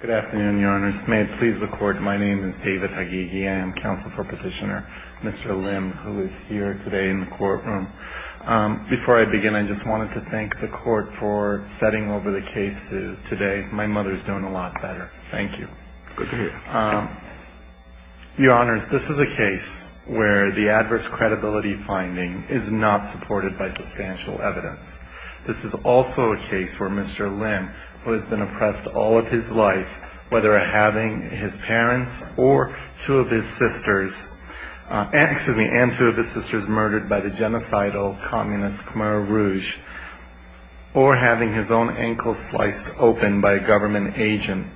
Good afternoon, Your Honors. May it please the Court, my name is David Hagighi. I am counsel for Petitioner Mr. Lim, who is here today in the courtroom. Before I begin, I just wanted to thank the Court for setting over the case today. My mother is doing a lot better. Thank you. Good to hear. Your Honors, this is a case where the adverse credibility finding is not supported by substantial evidence. This is also a case where Mr. Lim, who has been oppressed all of his life, whether having his parents and two of his sisters murdered by the genocidal communist Khmer Rouge, or having his own ankles sliced open by a government agent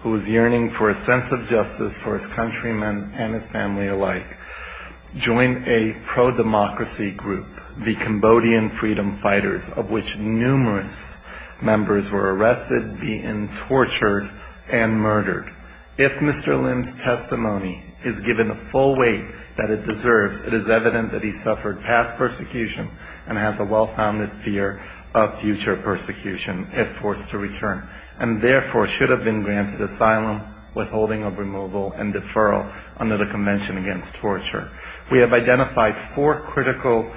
who is yearning for a sense of justice for his countrymen and his family alike, joined a pro-democracy group, the Cambodian Freedom Fighters, of which numerous members were arrested, beaten, tortured, and murdered. If Mr. Lim's testimony is given the full weight that it deserves, it is evident that he suffered past persecution and has a well-founded fear of future persecution, if forced to return, and therefore should have been granted asylum, withholding of removal, and deferral under the Convention Against Torture. We have identified four critical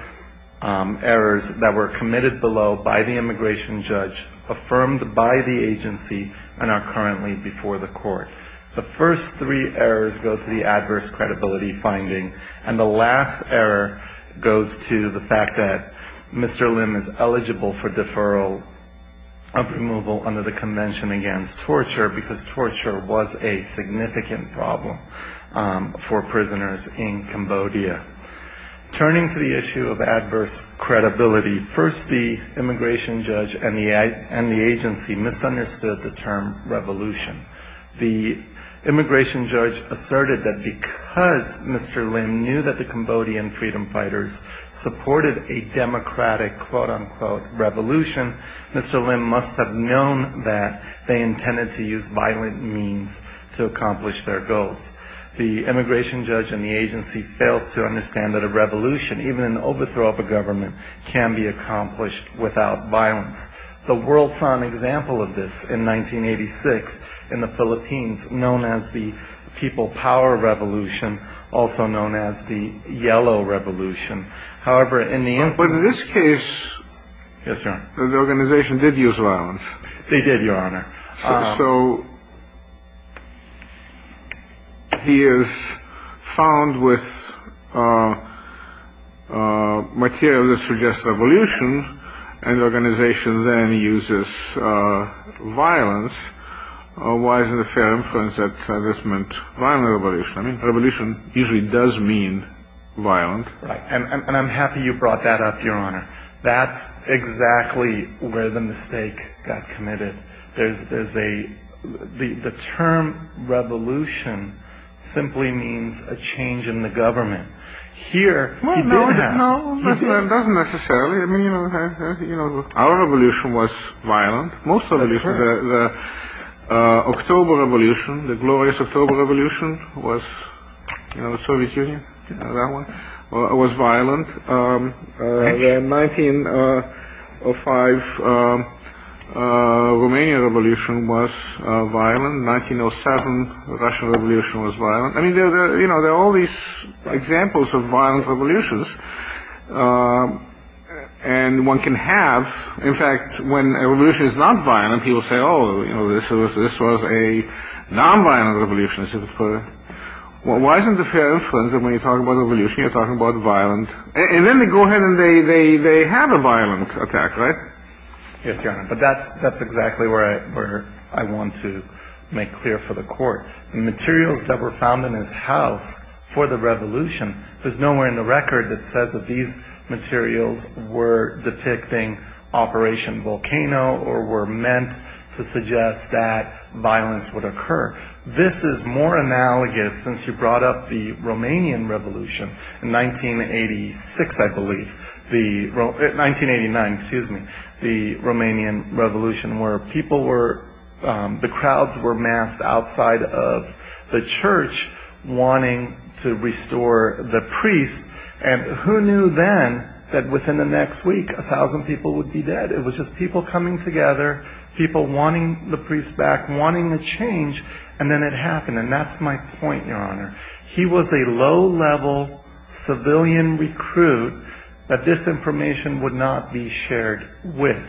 errors that were committed below by the immigration judge, affirmed by the agency, and are currently before the Court. The first three errors go to the adverse credibility finding, and the last error goes to the fact that Mr. Lim is eligible for deferral of removal under the Convention Against Torture, because torture was a significant problem for prisoners in Cambodia. Turning to the issue of adverse credibility, first the immigration judge and the agency misunderstood the term revolution. The immigration judge asserted that because Mr. Lim knew that the Cambodian Freedom Fighters supported a democratic, quote-unquote, revolution, Mr. Lim must have known that they intended to use violent means to accomplish their goals. The immigration judge and the agency failed to understand that a revolution, even an overthrow of a government, can be accomplished without violence. The world saw an example of this in 1986 in the Philippines, known as the People Power Revolution, also known as the Yellow Revolution. However, in the instance... But in this case... Yes, Your Honor. The organization did use violence. They did, Your Honor. So he is found with material that suggests revolution, and the organization then uses violence. Why isn't it fair to infer that this meant violent revolution? I mean, revolution usually does mean violent. Right. And I'm happy you brought that up, Your Honor. That's exactly where the mistake got committed. There's a... The term revolution simply means a change in the government. Here, he did have... Well, no, no, not necessarily. I mean, you know... Our revolution was violent. That's fair. The October Revolution, the glorious October Revolution was, you know, the Soviet Union, that one, was violent. The 1905 Romanian Revolution was violent. The 1907 Russian Revolution was violent. I mean, you know, there are all these examples of violent revolutions. And one can have... In fact, when a revolution is not violent, people say, oh, you know, this was a nonviolent revolution, as it were. Well, why isn't it fair to infer that when you talk about revolution, you're talking about violent... And then they go ahead and they have a violent attack, right? Yes, Your Honor. But that's exactly where I want to make clear for the Court. The materials that were found in his house for the revolution, there's nowhere in the record that says that these materials were depicting Operation Volcano or were meant to suggest that violence would occur. This is more analogous, since you brought up the Romanian Revolution in 1986, I believe. 1989, excuse me, the Romanian Revolution, where people were... The crowds were massed outside of the church, wanting to restore the priest. And who knew then that within the next week, a thousand people would be dead? It was just people coming together, people wanting the priest back, wanting a change. And then it happened. And that's my point, Your Honor. He was a low-level civilian recruit that this information would not be shared with.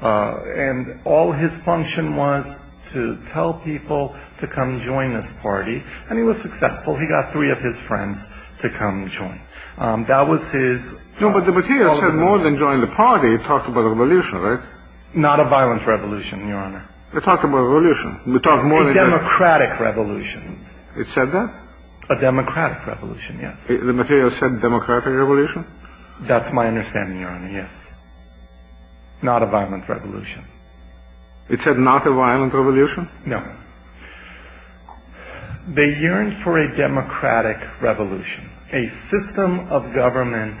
And all his function was to tell people to come join this party. And he was successful. He got three of his friends to come join. That was his... No, but the materials said more than join the party. It talked about a revolution, right? Not a violent revolution, Your Honor. It talked about a revolution. A democratic revolution. It said that? A democratic revolution, yes. The materials said democratic revolution? That's my understanding, Your Honor, yes. Not a violent revolution. It said not a violent revolution? No. They yearned for a democratic revolution, a system of government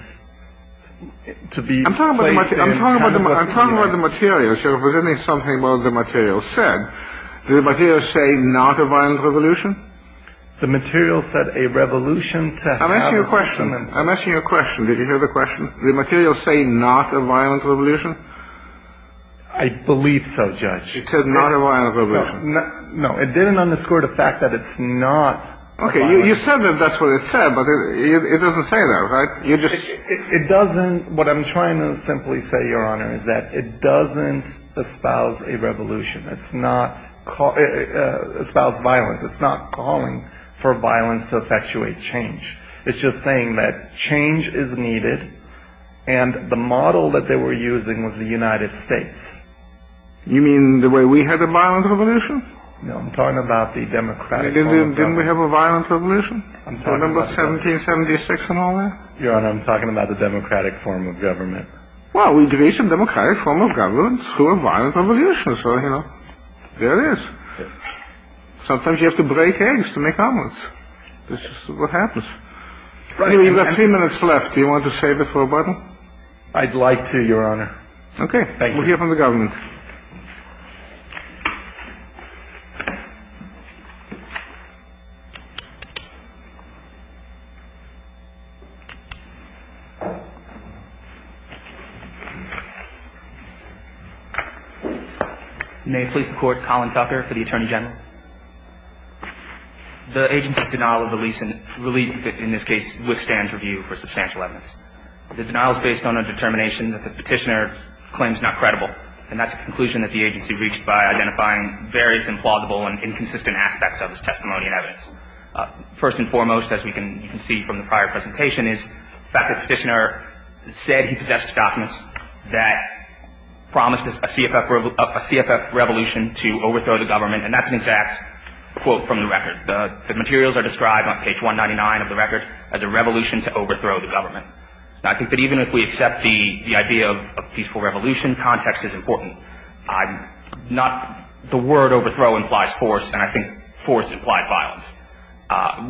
to be... I'm talking about the materials. You're representing something the materials said. Did the materials say not a violent revolution? The materials said a revolution to have... I'm asking you a question. I'm asking you a question. Did you hear the question? Did the materials say not a violent revolution? I believe so, Judge. It said not a violent revolution. No, it didn't underscore the fact that it's not... Okay, you said that that's what it said, but it doesn't say that, right? It doesn't... What I'm trying to simply say, Your Honor, is that it doesn't espouse a revolution. It's not espouse violence. It's not calling for violence to effectuate change. It's just saying that change is needed, and the model that they were using was the United States. You mean the way we had a violent revolution? No, I'm talking about the democratic... Didn't we have a violent revolution? I'm talking about... Remember 1776 and all that? Your Honor, I'm talking about the democratic form of government. Well, we agree it's a democratic form of government through a violent revolution, so, you know, there it is. Sometimes you have to break eggs to make omelets. That's just what happens. Anyway, you've got three minutes left. Do you want to save it for a bottle? I'd like to, Your Honor. Okay. We'll hear from the government. May it please the Court, Colin Tucker for the Attorney General. The agency's denial of the lease, in this case, withstands review for substantial evidence. The denial is based on a determination that the petitioner claims not credible, and that's a conclusion that the agency reached by identifying various implausible and inconsistent aspects of his testimony and evidence. First and foremost, as we can see from the prior presentation, is the fact that the petitioner said he possessed documents that promised a CFF revolution to overthrow the government, and that's an exact quote from the record. The materials are described on page 199 of the record as a revolution to overthrow the government. I think that even if we accept the idea of a peaceful revolution, context is important. Not the word overthrow implies force, and I think force implies violence.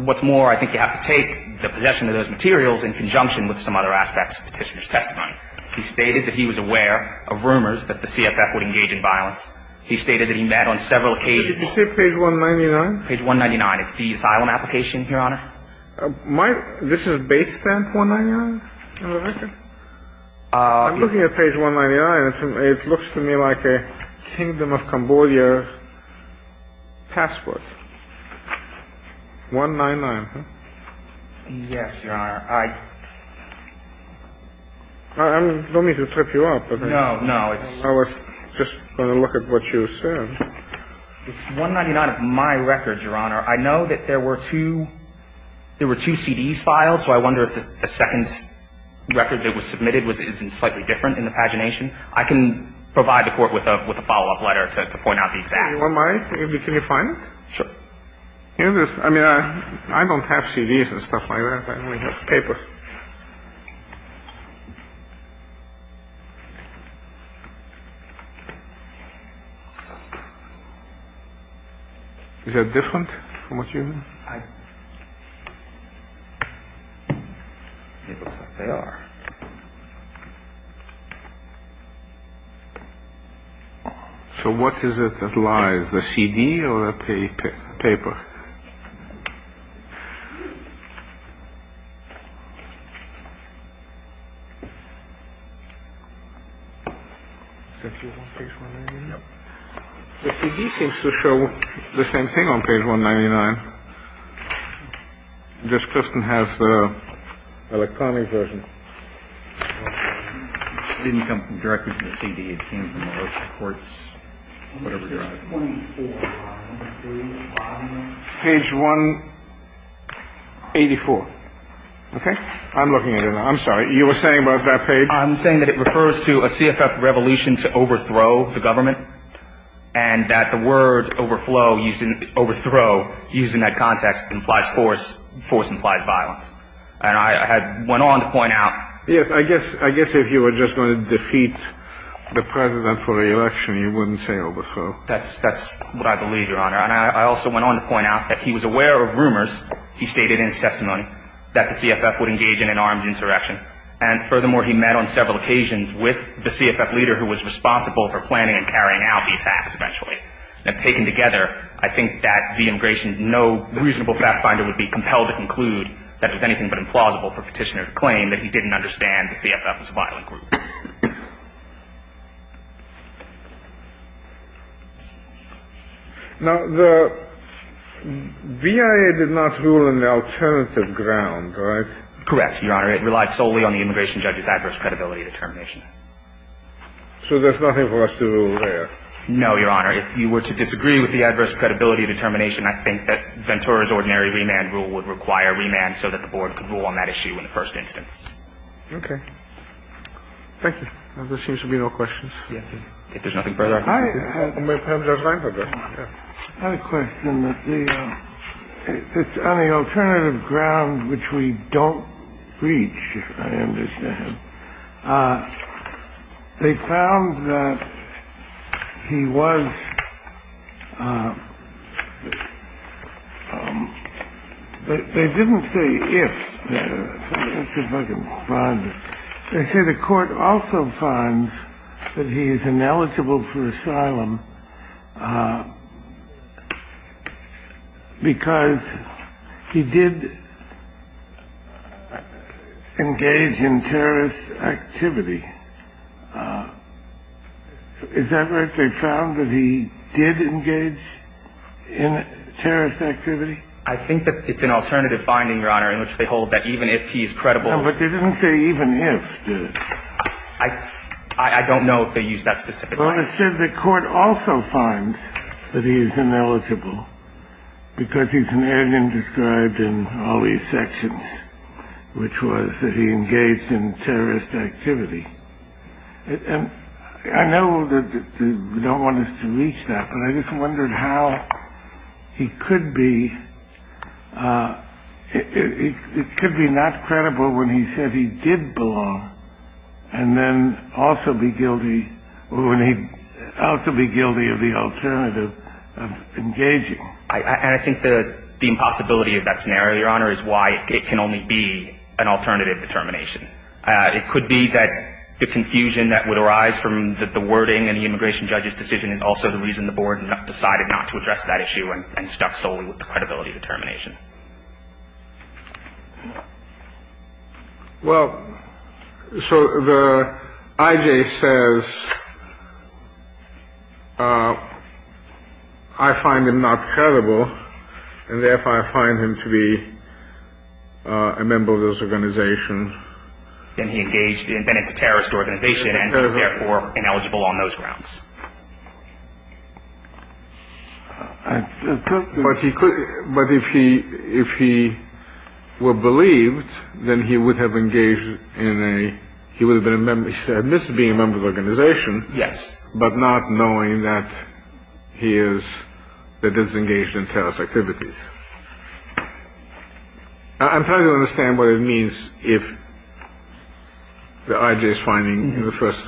What's more, I think you have to take the possession of those materials in conjunction with some other aspects of the petitioner's testimony. He stated that he was aware of rumors that the CFF would engage in violence. He stated that he met on several occasions. Did you say page 199? Page 199. It's the asylum application, Your Honor. This is base stamp 199 in the record? I'm looking at page 199, and it looks to me like a Kingdom of Cambodia passport. 199, huh? Yes, Your Honor. I don't mean to trip you up. No, no. I was just going to look at what you said. It's 199 of my record, Your Honor. I know that there were two CDs filed, so I wonder if the second record that was submitted is slightly different in the pagination. I can provide the Court with a follow-up letter to point out the exacts. Do you want mine? Can you find it? Sure. Here it is. I mean, I don't have CDs and stuff like that. I only have paper. Is that different from what you have? It looks like they are. So what is it that lies, the CD or the paper? The CD seems to show the same thing on page 199. Page 184. Okay. I'm looking at it. I'm sorry. You were saying about that page? I'm saying that it refers to a CFF revolution to overthrow the government, and that the word overflow used in overthrow uses the word overthrow. Yes, I guess if you were just going to defeat the President for the election, you wouldn't say overthrow. That's what I believe, Your Honor. And I also went on to point out that he was aware of rumors, he stated in his testimony, that the CFF would engage in an armed insurrection. And furthermore, he met on several occasions with the CFF leader who was responsible for planning and carrying out the attacks eventually. Now, taken together, I think that the immigration, no reasonable fact finder would be compelled to conclude that it was anything but implausible for Petitioner to claim that he didn't understand the CFF as a violent group. Now, the BIA did not rule on the alternative ground, right? Correct, Your Honor. It relied solely on the immigration judge's adverse credibility determination. So there's nothing for us to rule there? No, Your Honor. If you were to disagree with the adverse credibility determination, I think that Ventura's ordinary remand rule would require remand so that the board could rule on that issue in the first instance. Okay. Thank you. There seems to be no questions. If there's nothing further. I have a question on the alternative ground which we don't reach, I understand. They found that he was. They didn't say if. They say the court also finds that he is ineligible for asylum. Because he did engage in terrorist activity. Is that right? They found that he did engage in terrorist activity? I think that it's an alternative finding, Your Honor, in which they hold that even if he is credible. But they didn't say even if, did they? I don't know if they used that specific line. They said the court also finds that he is ineligible because he's an alien described in all these sections, which was that he engaged in terrorist activity. And I know that they don't want us to reach that. But I just wondered how he could be. It could be not credible when he said he did belong and then also be guilty of the alternative of engaging. And I think the impossibility of that scenario, Your Honor, is why it can only be an alternative determination. It could be that the confusion that would arise from the wording in the immigration judge's decision is also the reason the board decided not to address that issue and stuck solely with the credibility determination. Well, so the I.J. says, I find him not credible and therefore I find him to be a member of this organization. Then he engaged in terrorist organization and is therefore ineligible on those grounds. But he could. But if he if he were believed, then he would have engaged in a he would have been admitted to being a member of the organization. Yes. But not knowing that he is that is engaged in terrorist activities. I'm trying to understand what it means if the I.J. is finding the first.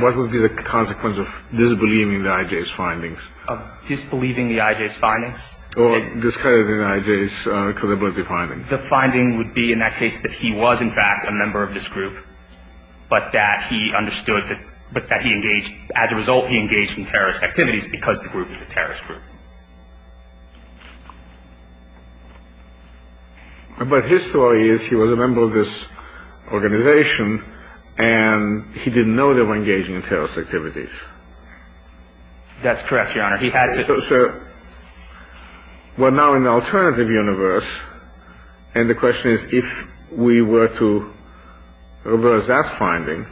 What would be the consequence of disbelieving the I.J.'s findings? Of disbelieving the I.J.'s findings. Or discrediting I.J.'s credibility findings. The finding would be in that case that he was, in fact, a member of this group, but that he understood that. But that he engaged. As a result, he engaged in terrorist activities because the group is a terrorist group. But his story is he was a member of this organization and he didn't know they were engaging in terrorist activities. That's correct, Your Honor. Sir, we're now in the alternative universe. And the question is, if we were to reverse that finding,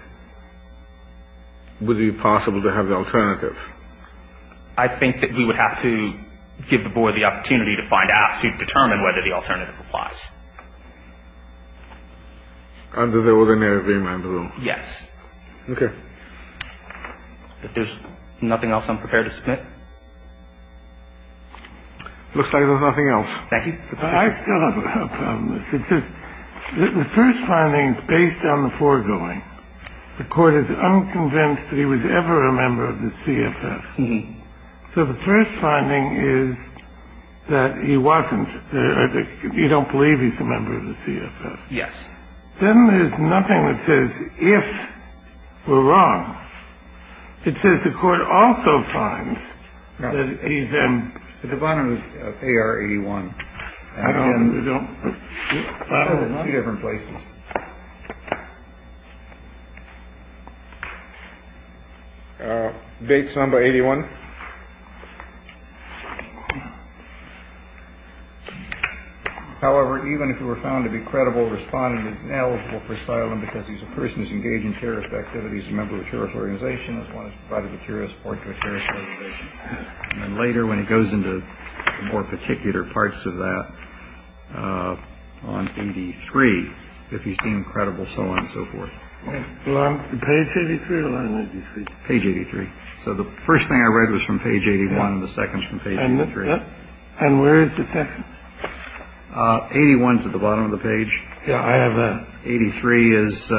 would it be possible to have the alternative? I think that we would have to give the board the opportunity to find out to determine whether the alternative applies. Under the ordinary remand rule. Yes. OK. If there's nothing else, I'm prepared to submit. Looks like there's nothing else. Thank you. I still have a problem. The first finding is based on the foregoing. The court is unconvinced that he was ever a member of the CFF. So the first finding is that he wasn't. You don't believe he's a member of the CFF. Yes. Then there's nothing that says if we're wrong. It says the court also finds that he's in the bottom of A.R. 81. I don't know. Different places. Dates on by 81. However, even if you were found to be credible responding, it's ineligible for asylum because he's a person who's engaged in terrorist activities, a member of a terrorist organization, as well as part of a terrorist organization. And later when it goes into more particular parts of that on 83, if he's deemed credible, so on and so forth. Page 83. Page 83. So the first thing I read was from page 81. The second page. And where is the second 81 to the bottom of the page? I have a 83 is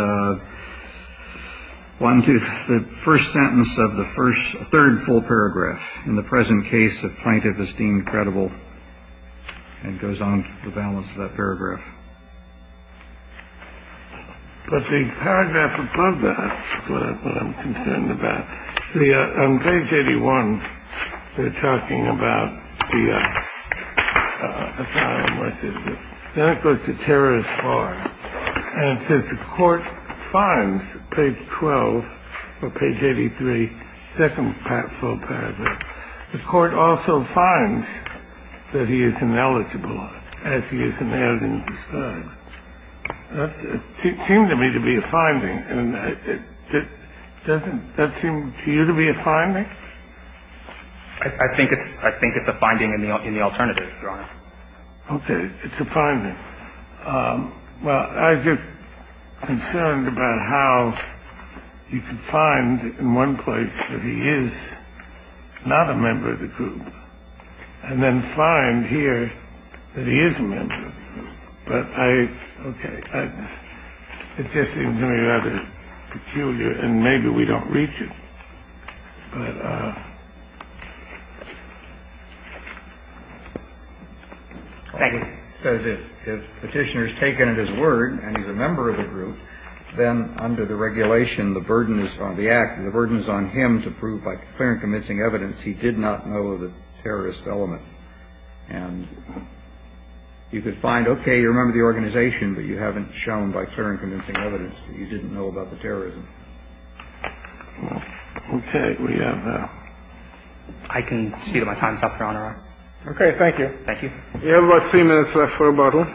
one to the first sentence of the first third full paragraph. In the present case, a plaintiff is deemed credible and goes on the balance of that paragraph. But the paragraph above that I'm concerned about the page 81. They're talking about the terrorist. And since the court finds page 12 or page 83, second part full paragraph, the court also finds that he is ineligible as he is. And they haven't described it seemed to me to be a finding. I think it's I think it's a finding in the in the alternative. OK. It's a finding. Well, I'm just concerned about how you can find in one place that he is not a member of the group and then find here that he is a member. But I OK. It just seems to me that is peculiar and maybe we don't reach it. It says if if petitioners taken at his word and he's a member of the group, then under the regulation, the burden is on the act. The burden is on him to prove by clear and convincing evidence. He did not know the terrorist element. And you could find, OK, you remember the organization, but you haven't shown by clear and convincing evidence that you didn't know about the terrorism. OK. We have I can see that my time's up, Your Honor. OK. Thank you. Thank you. You have about three minutes left for a bottle.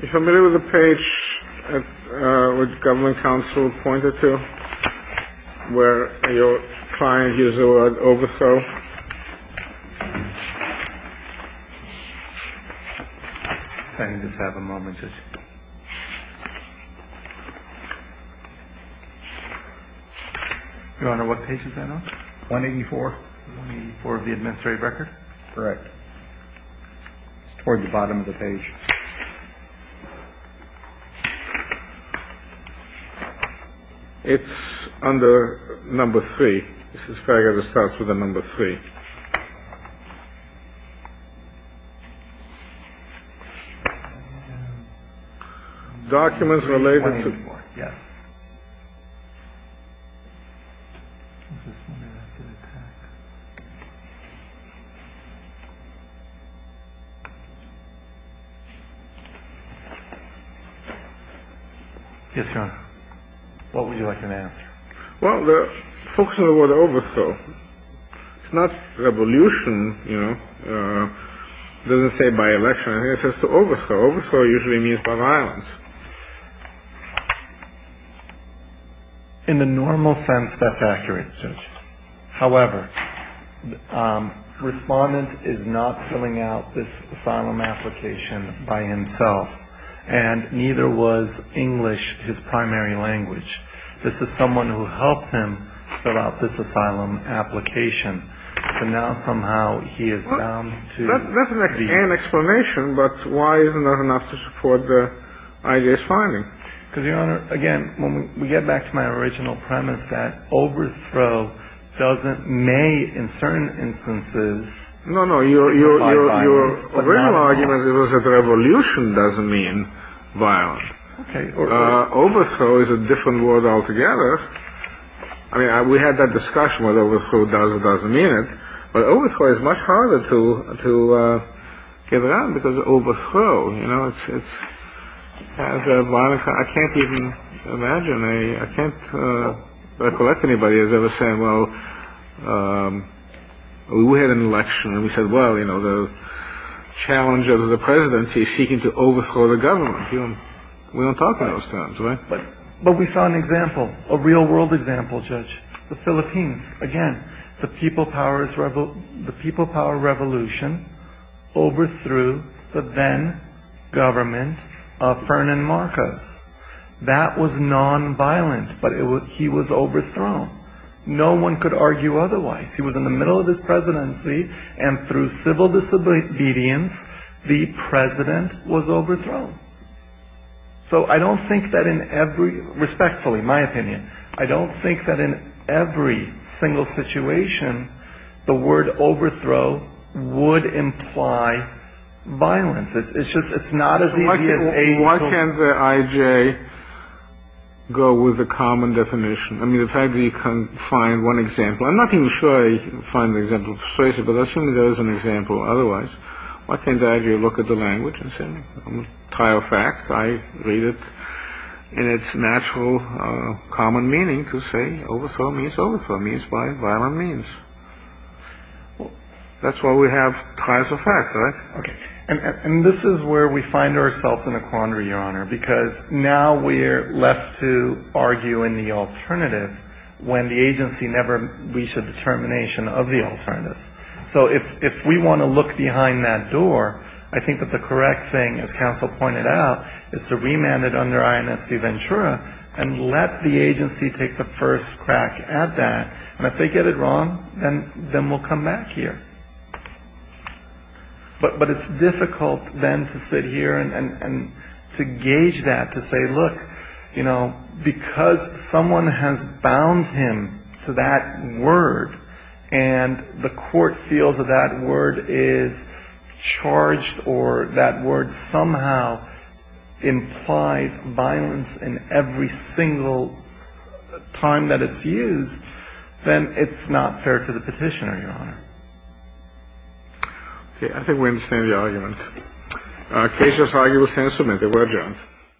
You're familiar with the page with government counsel pointed to where you're trying to use the word overthrow. I just have a moment. Your Honor, what page is that on? One eighty four. For the administrative record. Correct. Toward the bottom of the page. It's under number three. This is fair. It starts with a number three. Documents related to. Yes. Yes. Yes, Your Honor. What would you like an answer? Well, the folks in the world overthrow. It's not revolution. You know, it doesn't say by election. It says to overthrow. Overthrow usually means violence. In the normal sense, that's accurate. However, respondent is not filling out this asylum application. By himself. And neither was English his primary language. This is someone who helped him fill out this asylum application. So now somehow he is bound to. That's an explanation. But why isn't that enough to support the IDS finding? Because, Your Honor, again, when we get back to my original premise that overthrow doesn't may in certain instances. No, no. Your argument was that revolution doesn't mean violence. Overthrow is a different word altogether. I mean, we had that discussion. What I was told doesn't doesn't mean it. But overthrow is much harder to give it up because overthrow. You know, it's a violent. I can't even imagine. I can't recollect anybody has ever said. Well, we had an election and we said, well, you know, the challenge of the presidency seeking to overthrow the government. We don't talk about those things. But we saw an example, a real world example, Judge. The Philippines. Again, the people power revolution overthrew the then government of Fernan Marcos. That was nonviolent. But he was overthrown. No one could argue otherwise. He was in the middle of this presidency. And through civil disobedience, the president was overthrown. So I don't think that in every respectfully, in my opinion, I don't think that in every single situation, the word overthrow would imply violence. It's just it's not as easy as a. Why can't the IJ go with a common definition? I mean, it's hard to find one example. I'm not even sure I find the example persuasive, but assuming there is an example otherwise, why can't the IJ look at the language and say I'm tired of fact? I read it in its natural common meaning to say overthrow means overthrow means by violent means. That's why we have ties of fact, right? And this is where we find ourselves in a quandary, Your Honor, because now we're left to argue in the alternative when the agency never reached a determination of the alternative. So if we want to look behind that door, I think that the correct thing, as counsel pointed out, is to remand it under INS de Ventura and let the agency take the first crack at that. And if they get it wrong, then we'll come back here. But it's difficult then to sit here and to gauge that, to say, look, you know, because someone has bound him to that word and the court feels that that word is charged or that word somehow implies violence in every single time that it's used, then it's not fair to the petitioner, Your Honor. Okay. I think we understand the argument. Case is argued and submitted. We're adjourned.